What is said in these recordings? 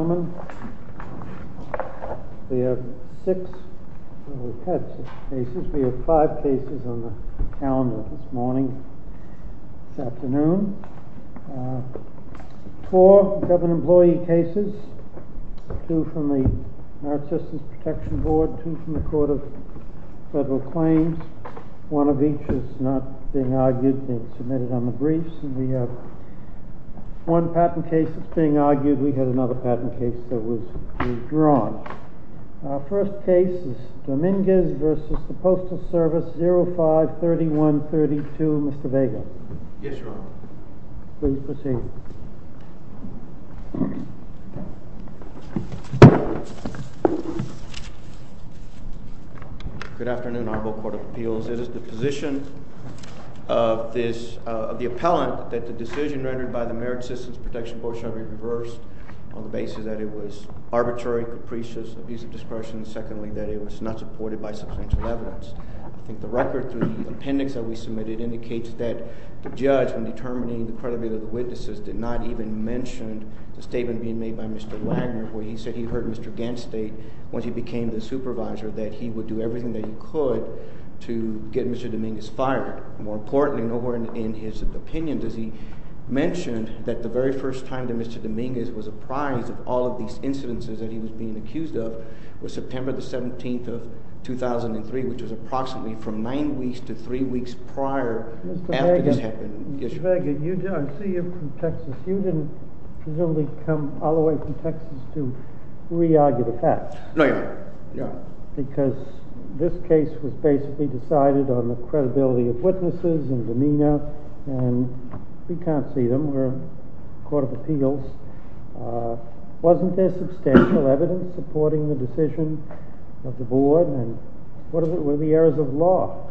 Ladies and gentlemen, we have five cases on the calendar this morning, this afternoon. Four government employee cases, two from the American Citizens Protection Board, two from the Court of Federal Claims. One of each is not being argued, being submitted on the briefs. The one patent case that's being argued, we had another patent case that was withdrawn. Our first case is Dominguez v. the Postal Service, 05-3132. Mr. Vega. Yes, Your Honor. Please proceed. Good afternoon, Honorable Court of Appeals. It is the position of the appellant that the decision rendered by the American Citizens Protection Board shall be reversed on the basis that it was arbitrary, capricious, abuse of discretion, and secondly, that it was not supported by substantial evidence. I think the record through the appendix that we submitted indicates that the judge, in determining the credibility of the witnesses, did not even mention the statement being made by Mr. Wagner, where he said he heard Mr. Ganstate, once he became the supervisor, that he would do everything that he could to get Mr. Dominguez fired. More importantly, nowhere in his opinion does he mention that the very first time that Mr. Dominguez was apprised of all of these incidences that he was being accused of was September the 17th of 2003, which was approximately from nine weeks to three weeks prior after this happened. Mr. Vega, I see you're from Texas. You didn't come all the way from Texas to re-argue the fact. No, Your Honor. Because this case was basically decided on the credibility of witnesses and demeanor, and we can't see them. We're a court of appeals. Wasn't there substantial evidence supporting the decision of the board? And what were the errors of law?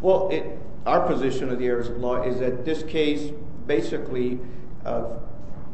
Well, our position of the errors of law is that this case basically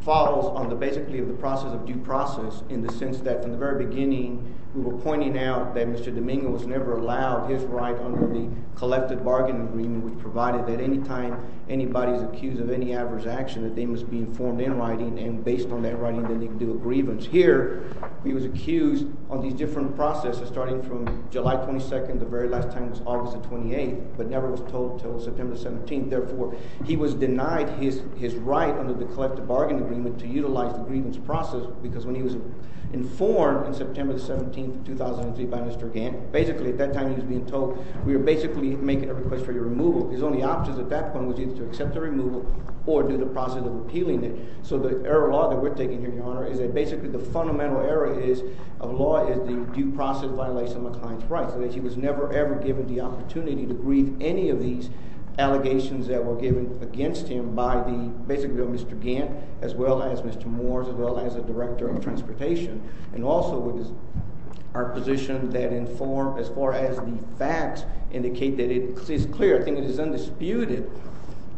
follows on the basically of the process of due process in the sense that, from the very beginning, we were pointing out that Mr. Dominguez was never allowed his right under the collective bargaining agreement we provided, that any time anybody is accused of any adverse action, that they must be informed in writing, and based on that writing, then they can do a grievance. Whereas here, he was accused on these different processes, starting from July 22nd, the very last time was August the 28th, but never was told until September the 17th. Therefore, he was denied his right under the collective bargaining agreement to utilize the grievance process because when he was informed in September the 17th, 2003, by Mr. Gant, basically at that time he was being told, we were basically making a request for your removal. His only option at that point was either to accept the removal or do the process of appealing it. So the error of law that we're taking here, Your Honor, is that basically the fundamental error of law is the due process violation of a client's rights, and that he was never, ever given the opportunity to grieve any of these allegations that were given against him by basically Mr. Gant, as well as Mr. Moores, as well as the Director of Transportation. And also, it is our position that in form, as far as the facts indicate, that it is clear, I think it is undisputed,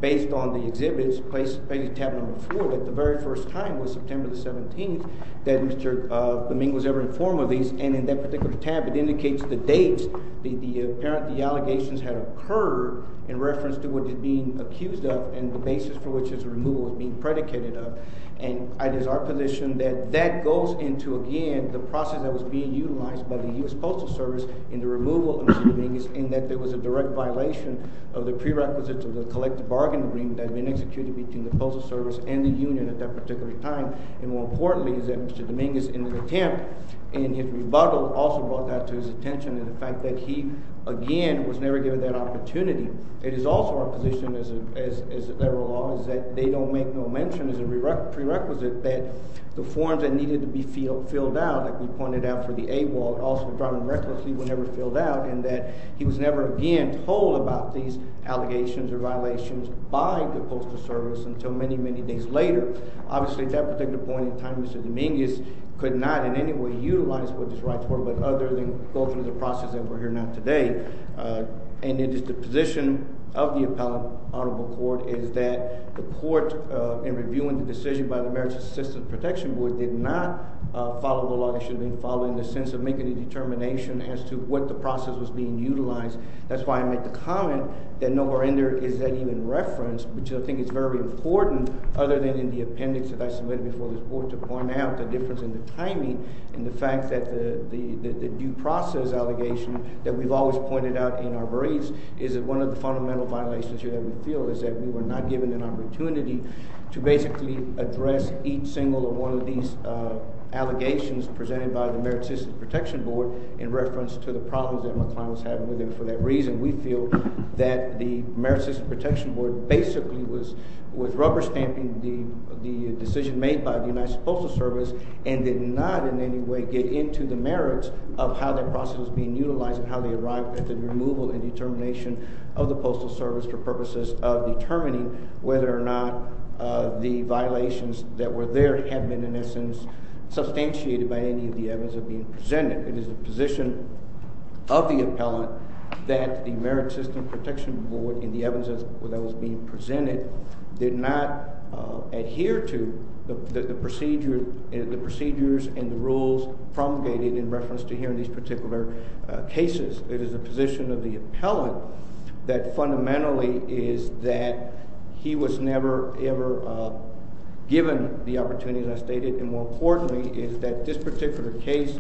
based on the exhibits placed on tab number four, that the very first time was September the 17th that Mr. Dominguez was ever informed of these, and in that particular tab, it indicates the dates, the apparent, the allegations had occurred in reference to what is being accused of and the basis for which his removal is being predicated of. And it is our position that that goes into, again, the process that was being utilized by the U.S. Postal Service in the removal of Mr. Dominguez, in that there was a direct violation of the prerequisites of the collective bargain agreement that had been executed between the Postal Service and the union at that particular time. And more importantly, is that Mr. Dominguez, in his attempt, in his rebuttal, also brought that to his attention, in the fact that he, again, was never given that opportunity. It is also our position, as a federal law, is that they don't make no mention, as a prerequisite, that the forms that needed to be filled out, like we pointed out for the AWOL, also dropped them recklessly, were never filled out, and that he was never again told about these allegations or violations by the Postal Service until many, many days later. Obviously, at that particular point in time, Mr. Dominguez could not in any way utilize what his rights were, but other than go through the process that we're here now today. And it is the position of the Appellate Audible Court is that the Court, in reviewing the decision by the American Citizens Protection Board, did not follow the law. It should have been followed in the sense of making a determination as to what the process was being utilized. That's why I made the comment that nowhere in there is that even referenced, which I think is very important, other than in the appendix that I submitted before this Board, to point out the difference in the timing and the fact that the due process allegation that we've always pointed out in our briefs is that one of the fundamental violations here that we feel is that we were not given an opportunity to basically address each single one of these allegations presented by the American Citizens Protection Board, in reference to the problems that McClellan was having with him for that reason. We feel that the American Citizens Protection Board basically was rubber-stamping the decision made by the United Postal Service and did not in any way get into the merits of how that process was being utilized and how they arrived at the removal and determination of the Postal Service for purposes of determining whether or not the violations that were there had been, in essence, substantiated by any of the evidence being presented. It is the position of the appellant that the American Citizens Protection Board, in the evidence that was being presented, did not adhere to the procedures and the rules promulgated in reference to hearing these particular cases. It is the position of the appellant that fundamentally is that he was never ever given the opportunity, as I stated, and more importantly, is that this particular case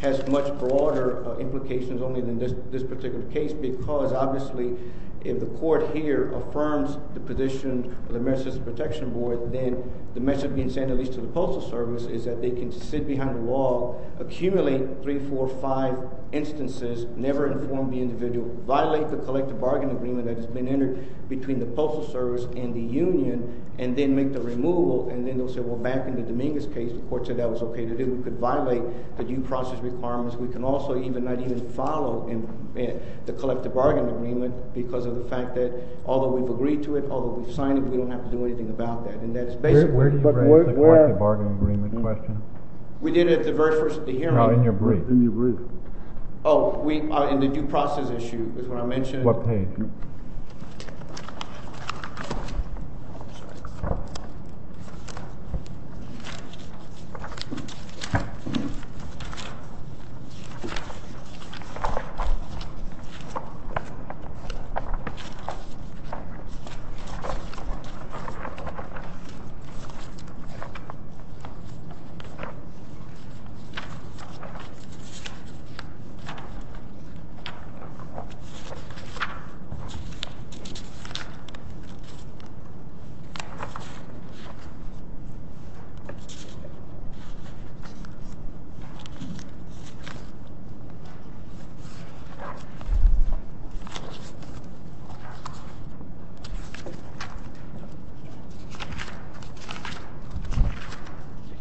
has much broader implications only than this particular case because, obviously, if the court here affirms the position of the American Citizens Protection Board, then the message being sent at least to the Postal Service is that they can sit behind a wall, accumulate three, four, five instances, never inform the individual, violate the collective bargain agreement that has been entered between the Postal Service and the union, and then make the removal. And then they'll say, well, back in the Dominguez case, the court said that was OK to do. We could violate the due process requirements. We can also not even follow the collective bargain agreement because of the fact that, although we've agreed to it, although we've signed it, we don't have to do anything about that. And that is basically— Where did you bring up the collective bargain agreement question? We did it at the very first hearing. In your brief. Oh, in the due process issue is what I mentioned. What page?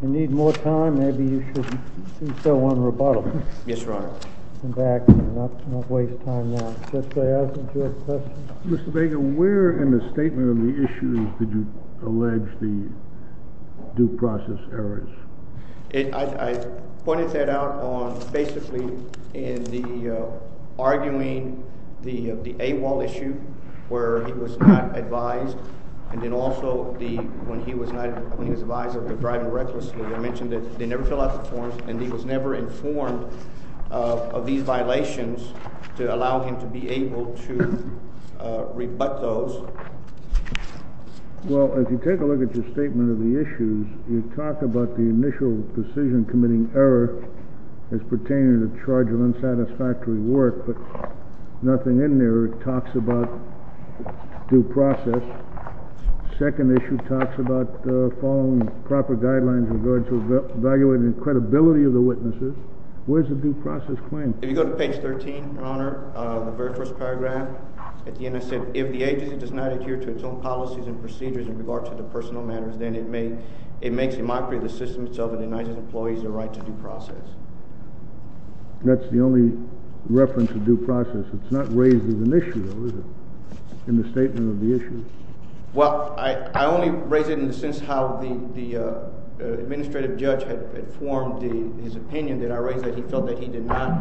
If you need more time, maybe you should go on rebuttal. Yes, Your Honor. Come back. Don't waste time now. Mr. Vega, where in the statement of the issues did you allege the due process errors? I pointed that out on basically in the—arguing the AWOL issue where he was not advised, and then also when he was advised of the driver recklessly. I mentioned that they never fill out the forms, and he was never informed of these violations to allow him to be able to rebut those. Well, if you take a look at your statement of the issues, you talk about the initial decision committing error as pertaining to the charge of unsatisfactory work, but nothing in there talks about due process. The second issue talks about following proper guidelines in regards to evaluating credibility of the witnesses. Where's the due process claim? If you go to page 13, Your Honor, the very first paragraph at the end, it said, if the agency does not adhere to its own policies and procedures in regards to the personal matters, then it makes a mockery of the system itself and denies its employees the right to due process. That's the only reference to due process. It's not raised as an issue, though, is it, in the statement of the issues? Well, I only raise it in the sense how the administrative judge had formed his opinion that I raised, that he felt that he did not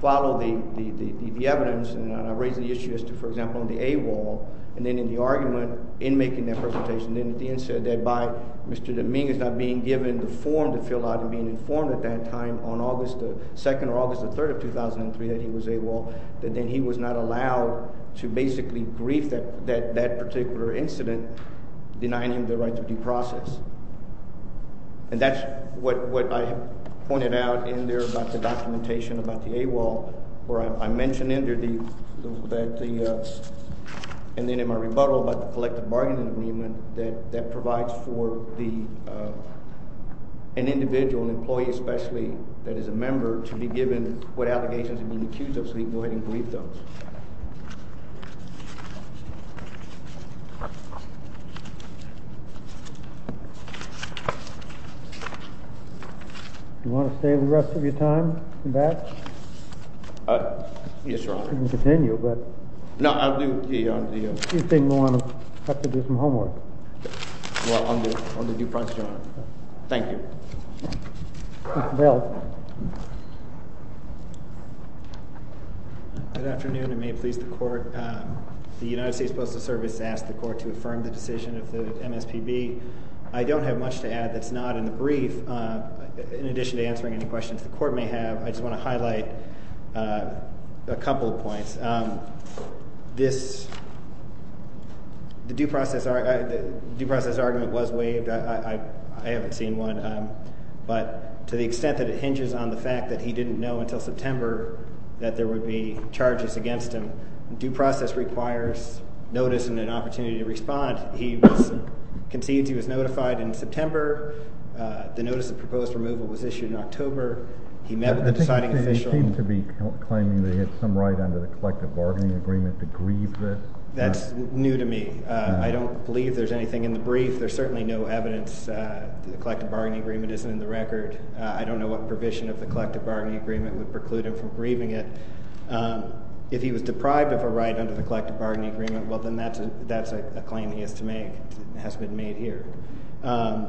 follow the evidence. And I raised the issue as to, for example, in the AWOL, and then in the argument in making that presentation, then at the end said that by Mr. DeMing is not being given the form to fill out and being informed at that time on August 2nd or August 3rd of 2003 that he was AWOL, that then he was not allowed to basically brief that particular incident, denying him the right to due process. And that's what I pointed out in there about the documentation about the AWOL, where I mentioned in there the—and then in my rebuttal about the collective bargaining agreement that provides for an individual, an employee especially, that is a member, to be given what allegations have been accused of. So you can go ahead and brief those. Do you want to stay the rest of your time, in batch? Yes, Your Honor. You can continue, but— No, I'll do— You seem to want to have to do some homework. Well, I'll do it on the due process, Your Honor. Thank you. Mr. Bell. Good afternoon. It may please the Court. The United States Postal Service asked the Court to affirm the decision of the MSPB. I don't have much to add that's not in the brief. In addition to answering any questions the Court may have, I just want to highlight a couple of points. This—the due process argument was waived. I haven't seen one. But to the extent that it hinges on the fact that he didn't know until September that there would be charges against him, due process requires notice and an opportunity to respond. He was conceived. He was notified in September. He seemed to be claiming that he had some right under the collective bargaining agreement to grieve this. That's new to me. I don't believe there's anything in the brief. There's certainly no evidence the collective bargaining agreement isn't in the record. I don't know what provision of the collective bargaining agreement would preclude him from grieving it. If he was deprived of a right under the collective bargaining agreement, well, then that's a claim he has to make. It hasn't been made here. And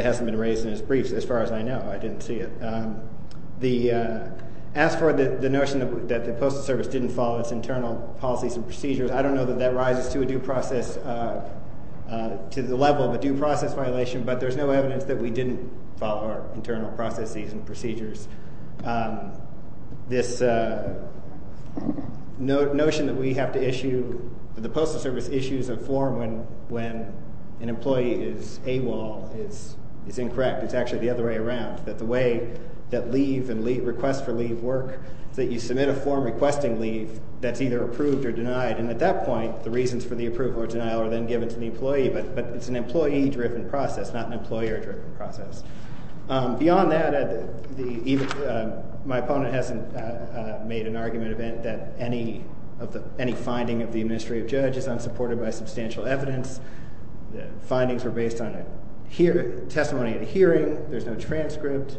it hasn't been raised in his briefs as far as I know. I didn't see it. The—as for the notion that the Postal Service didn't follow its internal policies and procedures, I don't know that that rises to a due process—to the level of a due process violation. But there's no evidence that we didn't follow our internal processes and procedures. This notion that we have to issue—the Postal Service issues a form when an employee is AWOL is incorrect. It's actually the other way around, that the way that leave and request for leave work is that you submit a form requesting leave that's either approved or denied. And at that point, the reasons for the approval or denial are then given to the employee, but it's an employee-driven process, not an employer-driven process. Beyond that, my opponent hasn't made an argument that any finding of the administrative judge is unsupported by substantial evidence. The findings were based on testimony at a hearing. There's no transcript.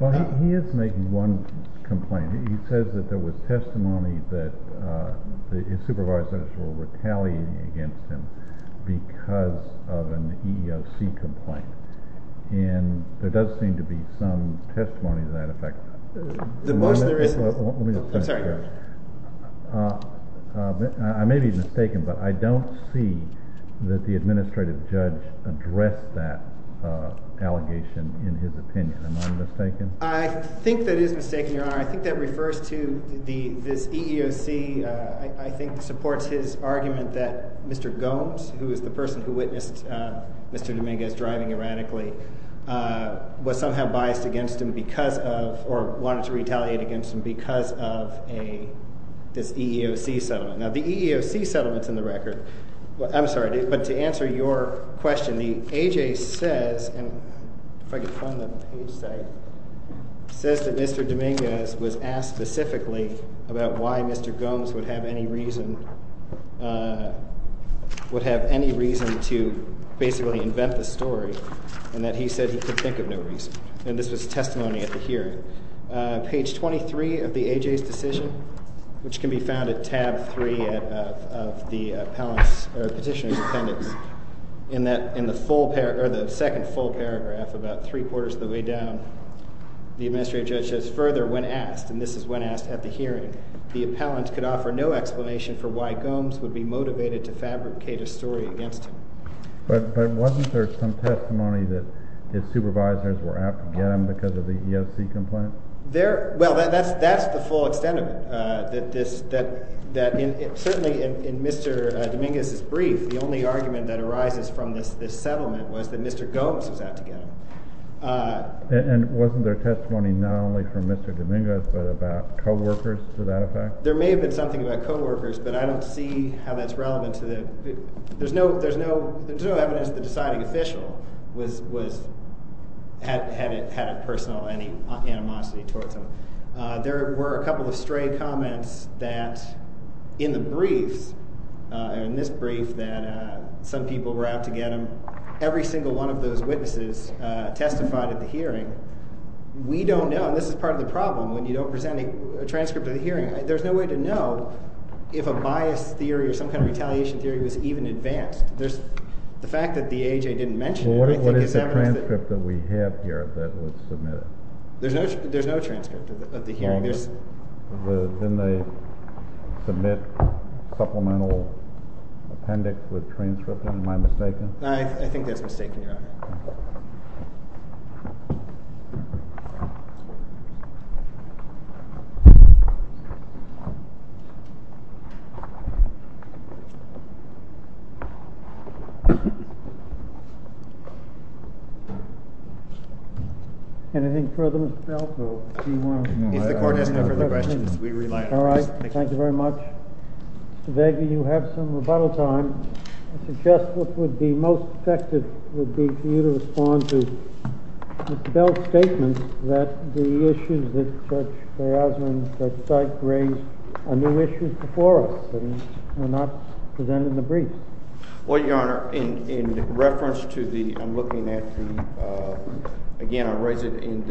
Well, he is making one complaint. He says that there was testimony that his supervisors were retaliating against him because of an EEOC complaint. And there does seem to be some testimony to that effect. The motion there is— Let me just finish. I'm sorry. I may be mistaken, but I don't see that the administrative judge addressed that allegation in his opinion. Am I mistaken? I think that is mistaken, Your Honor. I think that refers to—this EEOC, I think, supports his argument that Mr. Gomes, who is the person who witnessed Mr. Dominguez driving erratically, was somehow biased against him because of—or wanted to retaliate against him because of this EEOC settlement. Now, the EEOC settlement's in the record. I'm sorry. But to answer your question, the A.J. says—and if I could find that page, sorry—says that Mr. Dominguez was asked specifically about why Mr. Gomes would have any reason to basically invent the story and that he said he could think of no reason. Page 23 of the A.J.'s decision, which can be found at tab 3 of the Petitioner's Appendix, in the second full paragraph about three-quarters of the way down, the administrative judge says, Further, when asked—and this is when asked at the hearing—the appellant could offer no explanation for why Gomes would be motivated to fabricate a story against him. But wasn't there some testimony that his supervisors were out to get him because of the EEOC complaint? There—well, that's the full extent of it, that this—that in—certainly in Mr. Dominguez's brief, the only argument that arises from this settlement was that Mr. Gomes was out to get him. And wasn't there testimony not only from Mr. Dominguez but about co-workers to that effect? There may have been something about co-workers, but I don't see how that's relevant to the—there's no evidence that the deciding official was—had a personal animosity towards him. There were a couple of stray comments that, in the briefs, in this brief that some people were out to get him, every single one of those witnesses testified at the hearing. We don't know—and this is part of the problem when you don't present a transcript of the hearing. There's no way to know if a bias theory or some kind of retaliation theory was even advanced. There's—the fact that the AHA didn't mention anything is evidence that— Well, what is the transcript that we have here that was submitted? There's no transcript of the hearing. Then they submit supplemental appendix with transcripts. Am I mistaken? I think that's mistaken, Your Honor. All right. Anything further, Mr. Belford? He's the coordinator for the questions. We rely on— All right. Thank you very much. Mr. Begg, you have some rebuttal time. I suggest what would be most effective would be for you to respond to Mr. Bell's statement that the issues that such chaos and such sight raised are new issues before us and were not presented in the brief. Well, Your Honor, in reference to the—I'm looking at the—again, I raised it in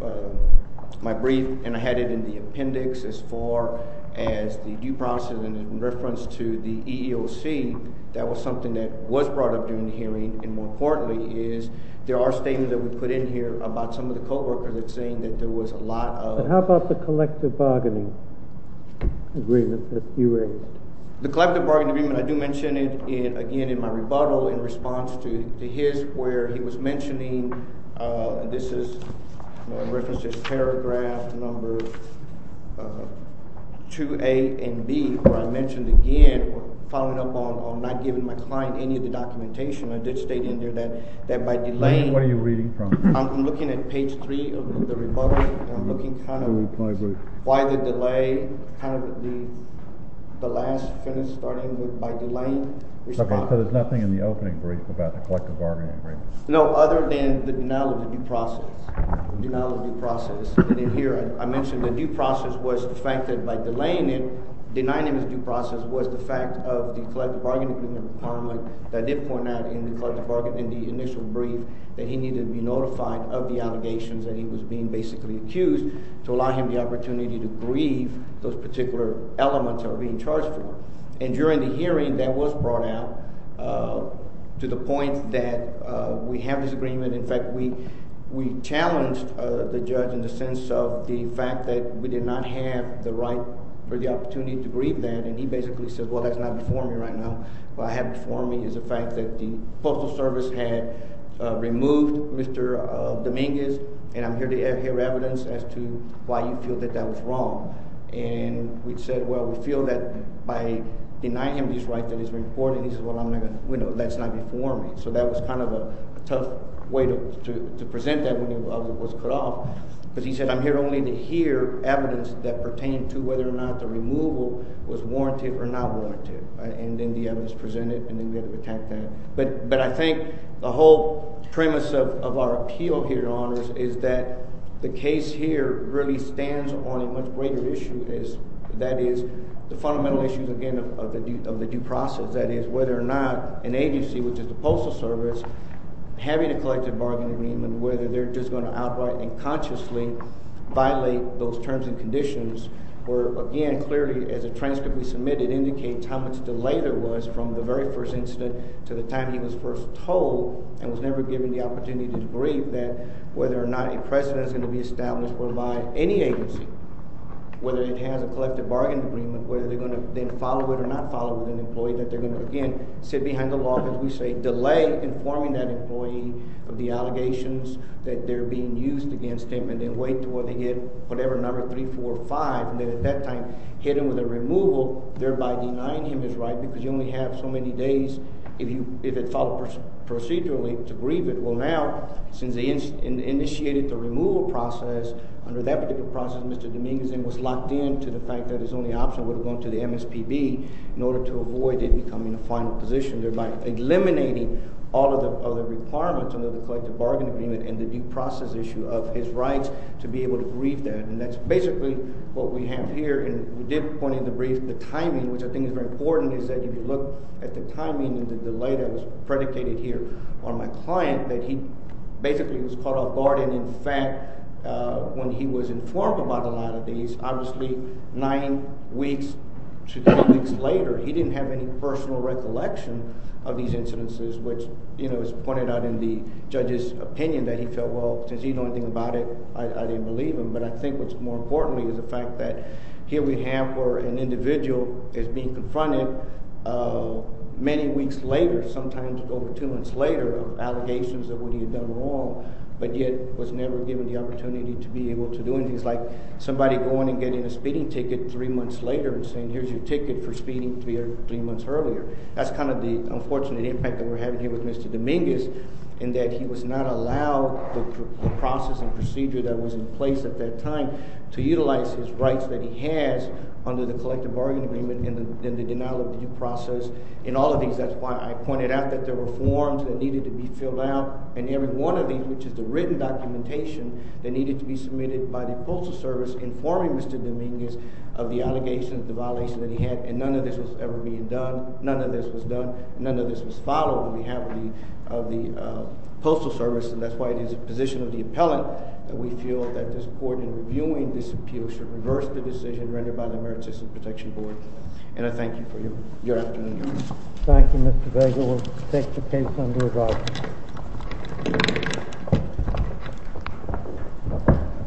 the—my brief, and I had it in the appendix as far as the due process. And in reference to the EEOC, that was something that was brought up during the hearing. And more importantly is there are statements that we put in here about some of the co-workers saying that there was a lot of— How about the collective bargaining agreement that you raised? The collective bargaining agreement, I do mention it again in my rebuttal in response to his where he was mentioning—this is referenced as paragraph number 2A and B, where I mentioned again following up on not giving my client any of the documentation. I did state in there that by delaying— What are you reading from? I'm looking at page 3 of the rebuttal, and I'm looking kind of why the delay, kind of the last sentence starting with by delaying— So there's nothing in the opening brief about the collective bargaining agreement? No, other than the denial of the due process. Denial of the due process. I mentioned the due process was the fact that by delaying it, denying it as due process was the fact of the collective bargaining agreement that I did point out in the initial brief that he needed to be notified of the allegations that he was being basically accused to allow him the opportunity to grieve those particular elements that were being charged with. During the hearing, that was brought out to the point that we have this agreement. In fact, we challenged the judge in the sense of the fact that we did not have the right or the opportunity to grieve that, and he basically said, well, that's not before me right now. What I have before me is the fact that the Postal Service had removed Mr. Dominguez, and I'm here to hear evidence as to why you feel that that was wrong. And we said, well, we feel that by denying him this right that he's been reporting, that's not before me. So that was kind of a tough way to present that when it was cut off, because he said, I'm here only to hear evidence that pertained to whether or not the removal was warranted or not warranted. And then the evidence presented, and then we had to protect that. But I think the whole premise of our appeal here, Your Honors, is that the case here really stands on a much greater issue. That is the fundamental issue, again, of the due process. That is whether or not an agency, which is the Postal Service, having a collective bargaining agreement, whether they're just going to outright and consciously violate those terms and conditions, where, again, clearly, as a transcript we submitted indicates how much delay there was from the very first incident to the time he was first told, and was never given the opportunity to debrief, that whether or not a precedent is going to be established whereby any agency, whether it has a collective bargaining agreement, whether they're going to then follow it or not follow it, an employee that they're going to, again, sit behind the law, as we say, delay informing that employee of the allegations that they're being used against him, and then wait until they get whatever number, 3, 4, or 5, and then at that time hit him with a removal, thereby denying him his right, because you only have so many days, if it followed procedurally, to grieve it. Well, now, since they initiated the removal process, under that particular process, Mr. Dominguez then was locked in to the fact that his only option would have gone to the MSPB, in order to avoid it becoming a final position, thereby eliminating all of the other requirements under the collective bargaining agreement and the due process issue of his rights to be able to grieve that, and that's basically what we have here, and we did point in the brief the timing, which I think is very important, is that if you look at the timing and the delay that was predicated here on my client, that he basically was caught off guard, and in fact, when he was informed about a lot of these, obviously, 9 weeks to 3 weeks later, he didn't have any personal recollection of these incidences, which, you know, it was pointed out in the judge's opinion that he felt, well, since he didn't know anything about it, I didn't believe him, but I think what's more important is the fact that here we have where an individual is being confronted many weeks later, sometimes over 2 months later, of allegations of what he had done wrong, but yet was never given the opportunity to be able to do anything. It's like somebody going and getting a speeding ticket 3 months later and saying, here's your ticket for speeding 3 months earlier. That's kind of the unfortunate impact that we're having here with Mr. Dominguez, in that he was not allowed the process and procedure that was in place at that time to utilize his rights that he has under the collective bargaining agreement and the denial of due process in all of these. That's why I pointed out that there were forms that needed to be filled out, and every one of these, which is the written documentation that needed to be submitted by the postal service was informing Mr. Dominguez of the allegations, the violations that he had, and none of this was ever being done, none of this was done, none of this was followed on behalf of the postal service, and that's why it is the position of the appellant that we feel that this court, in reviewing this appeal, should reverse the decision rendered by the Emergency System Protection Board. And I thank you for your afternoon, Your Honor. Thank you, Mr. Vega. We'll take the case under review.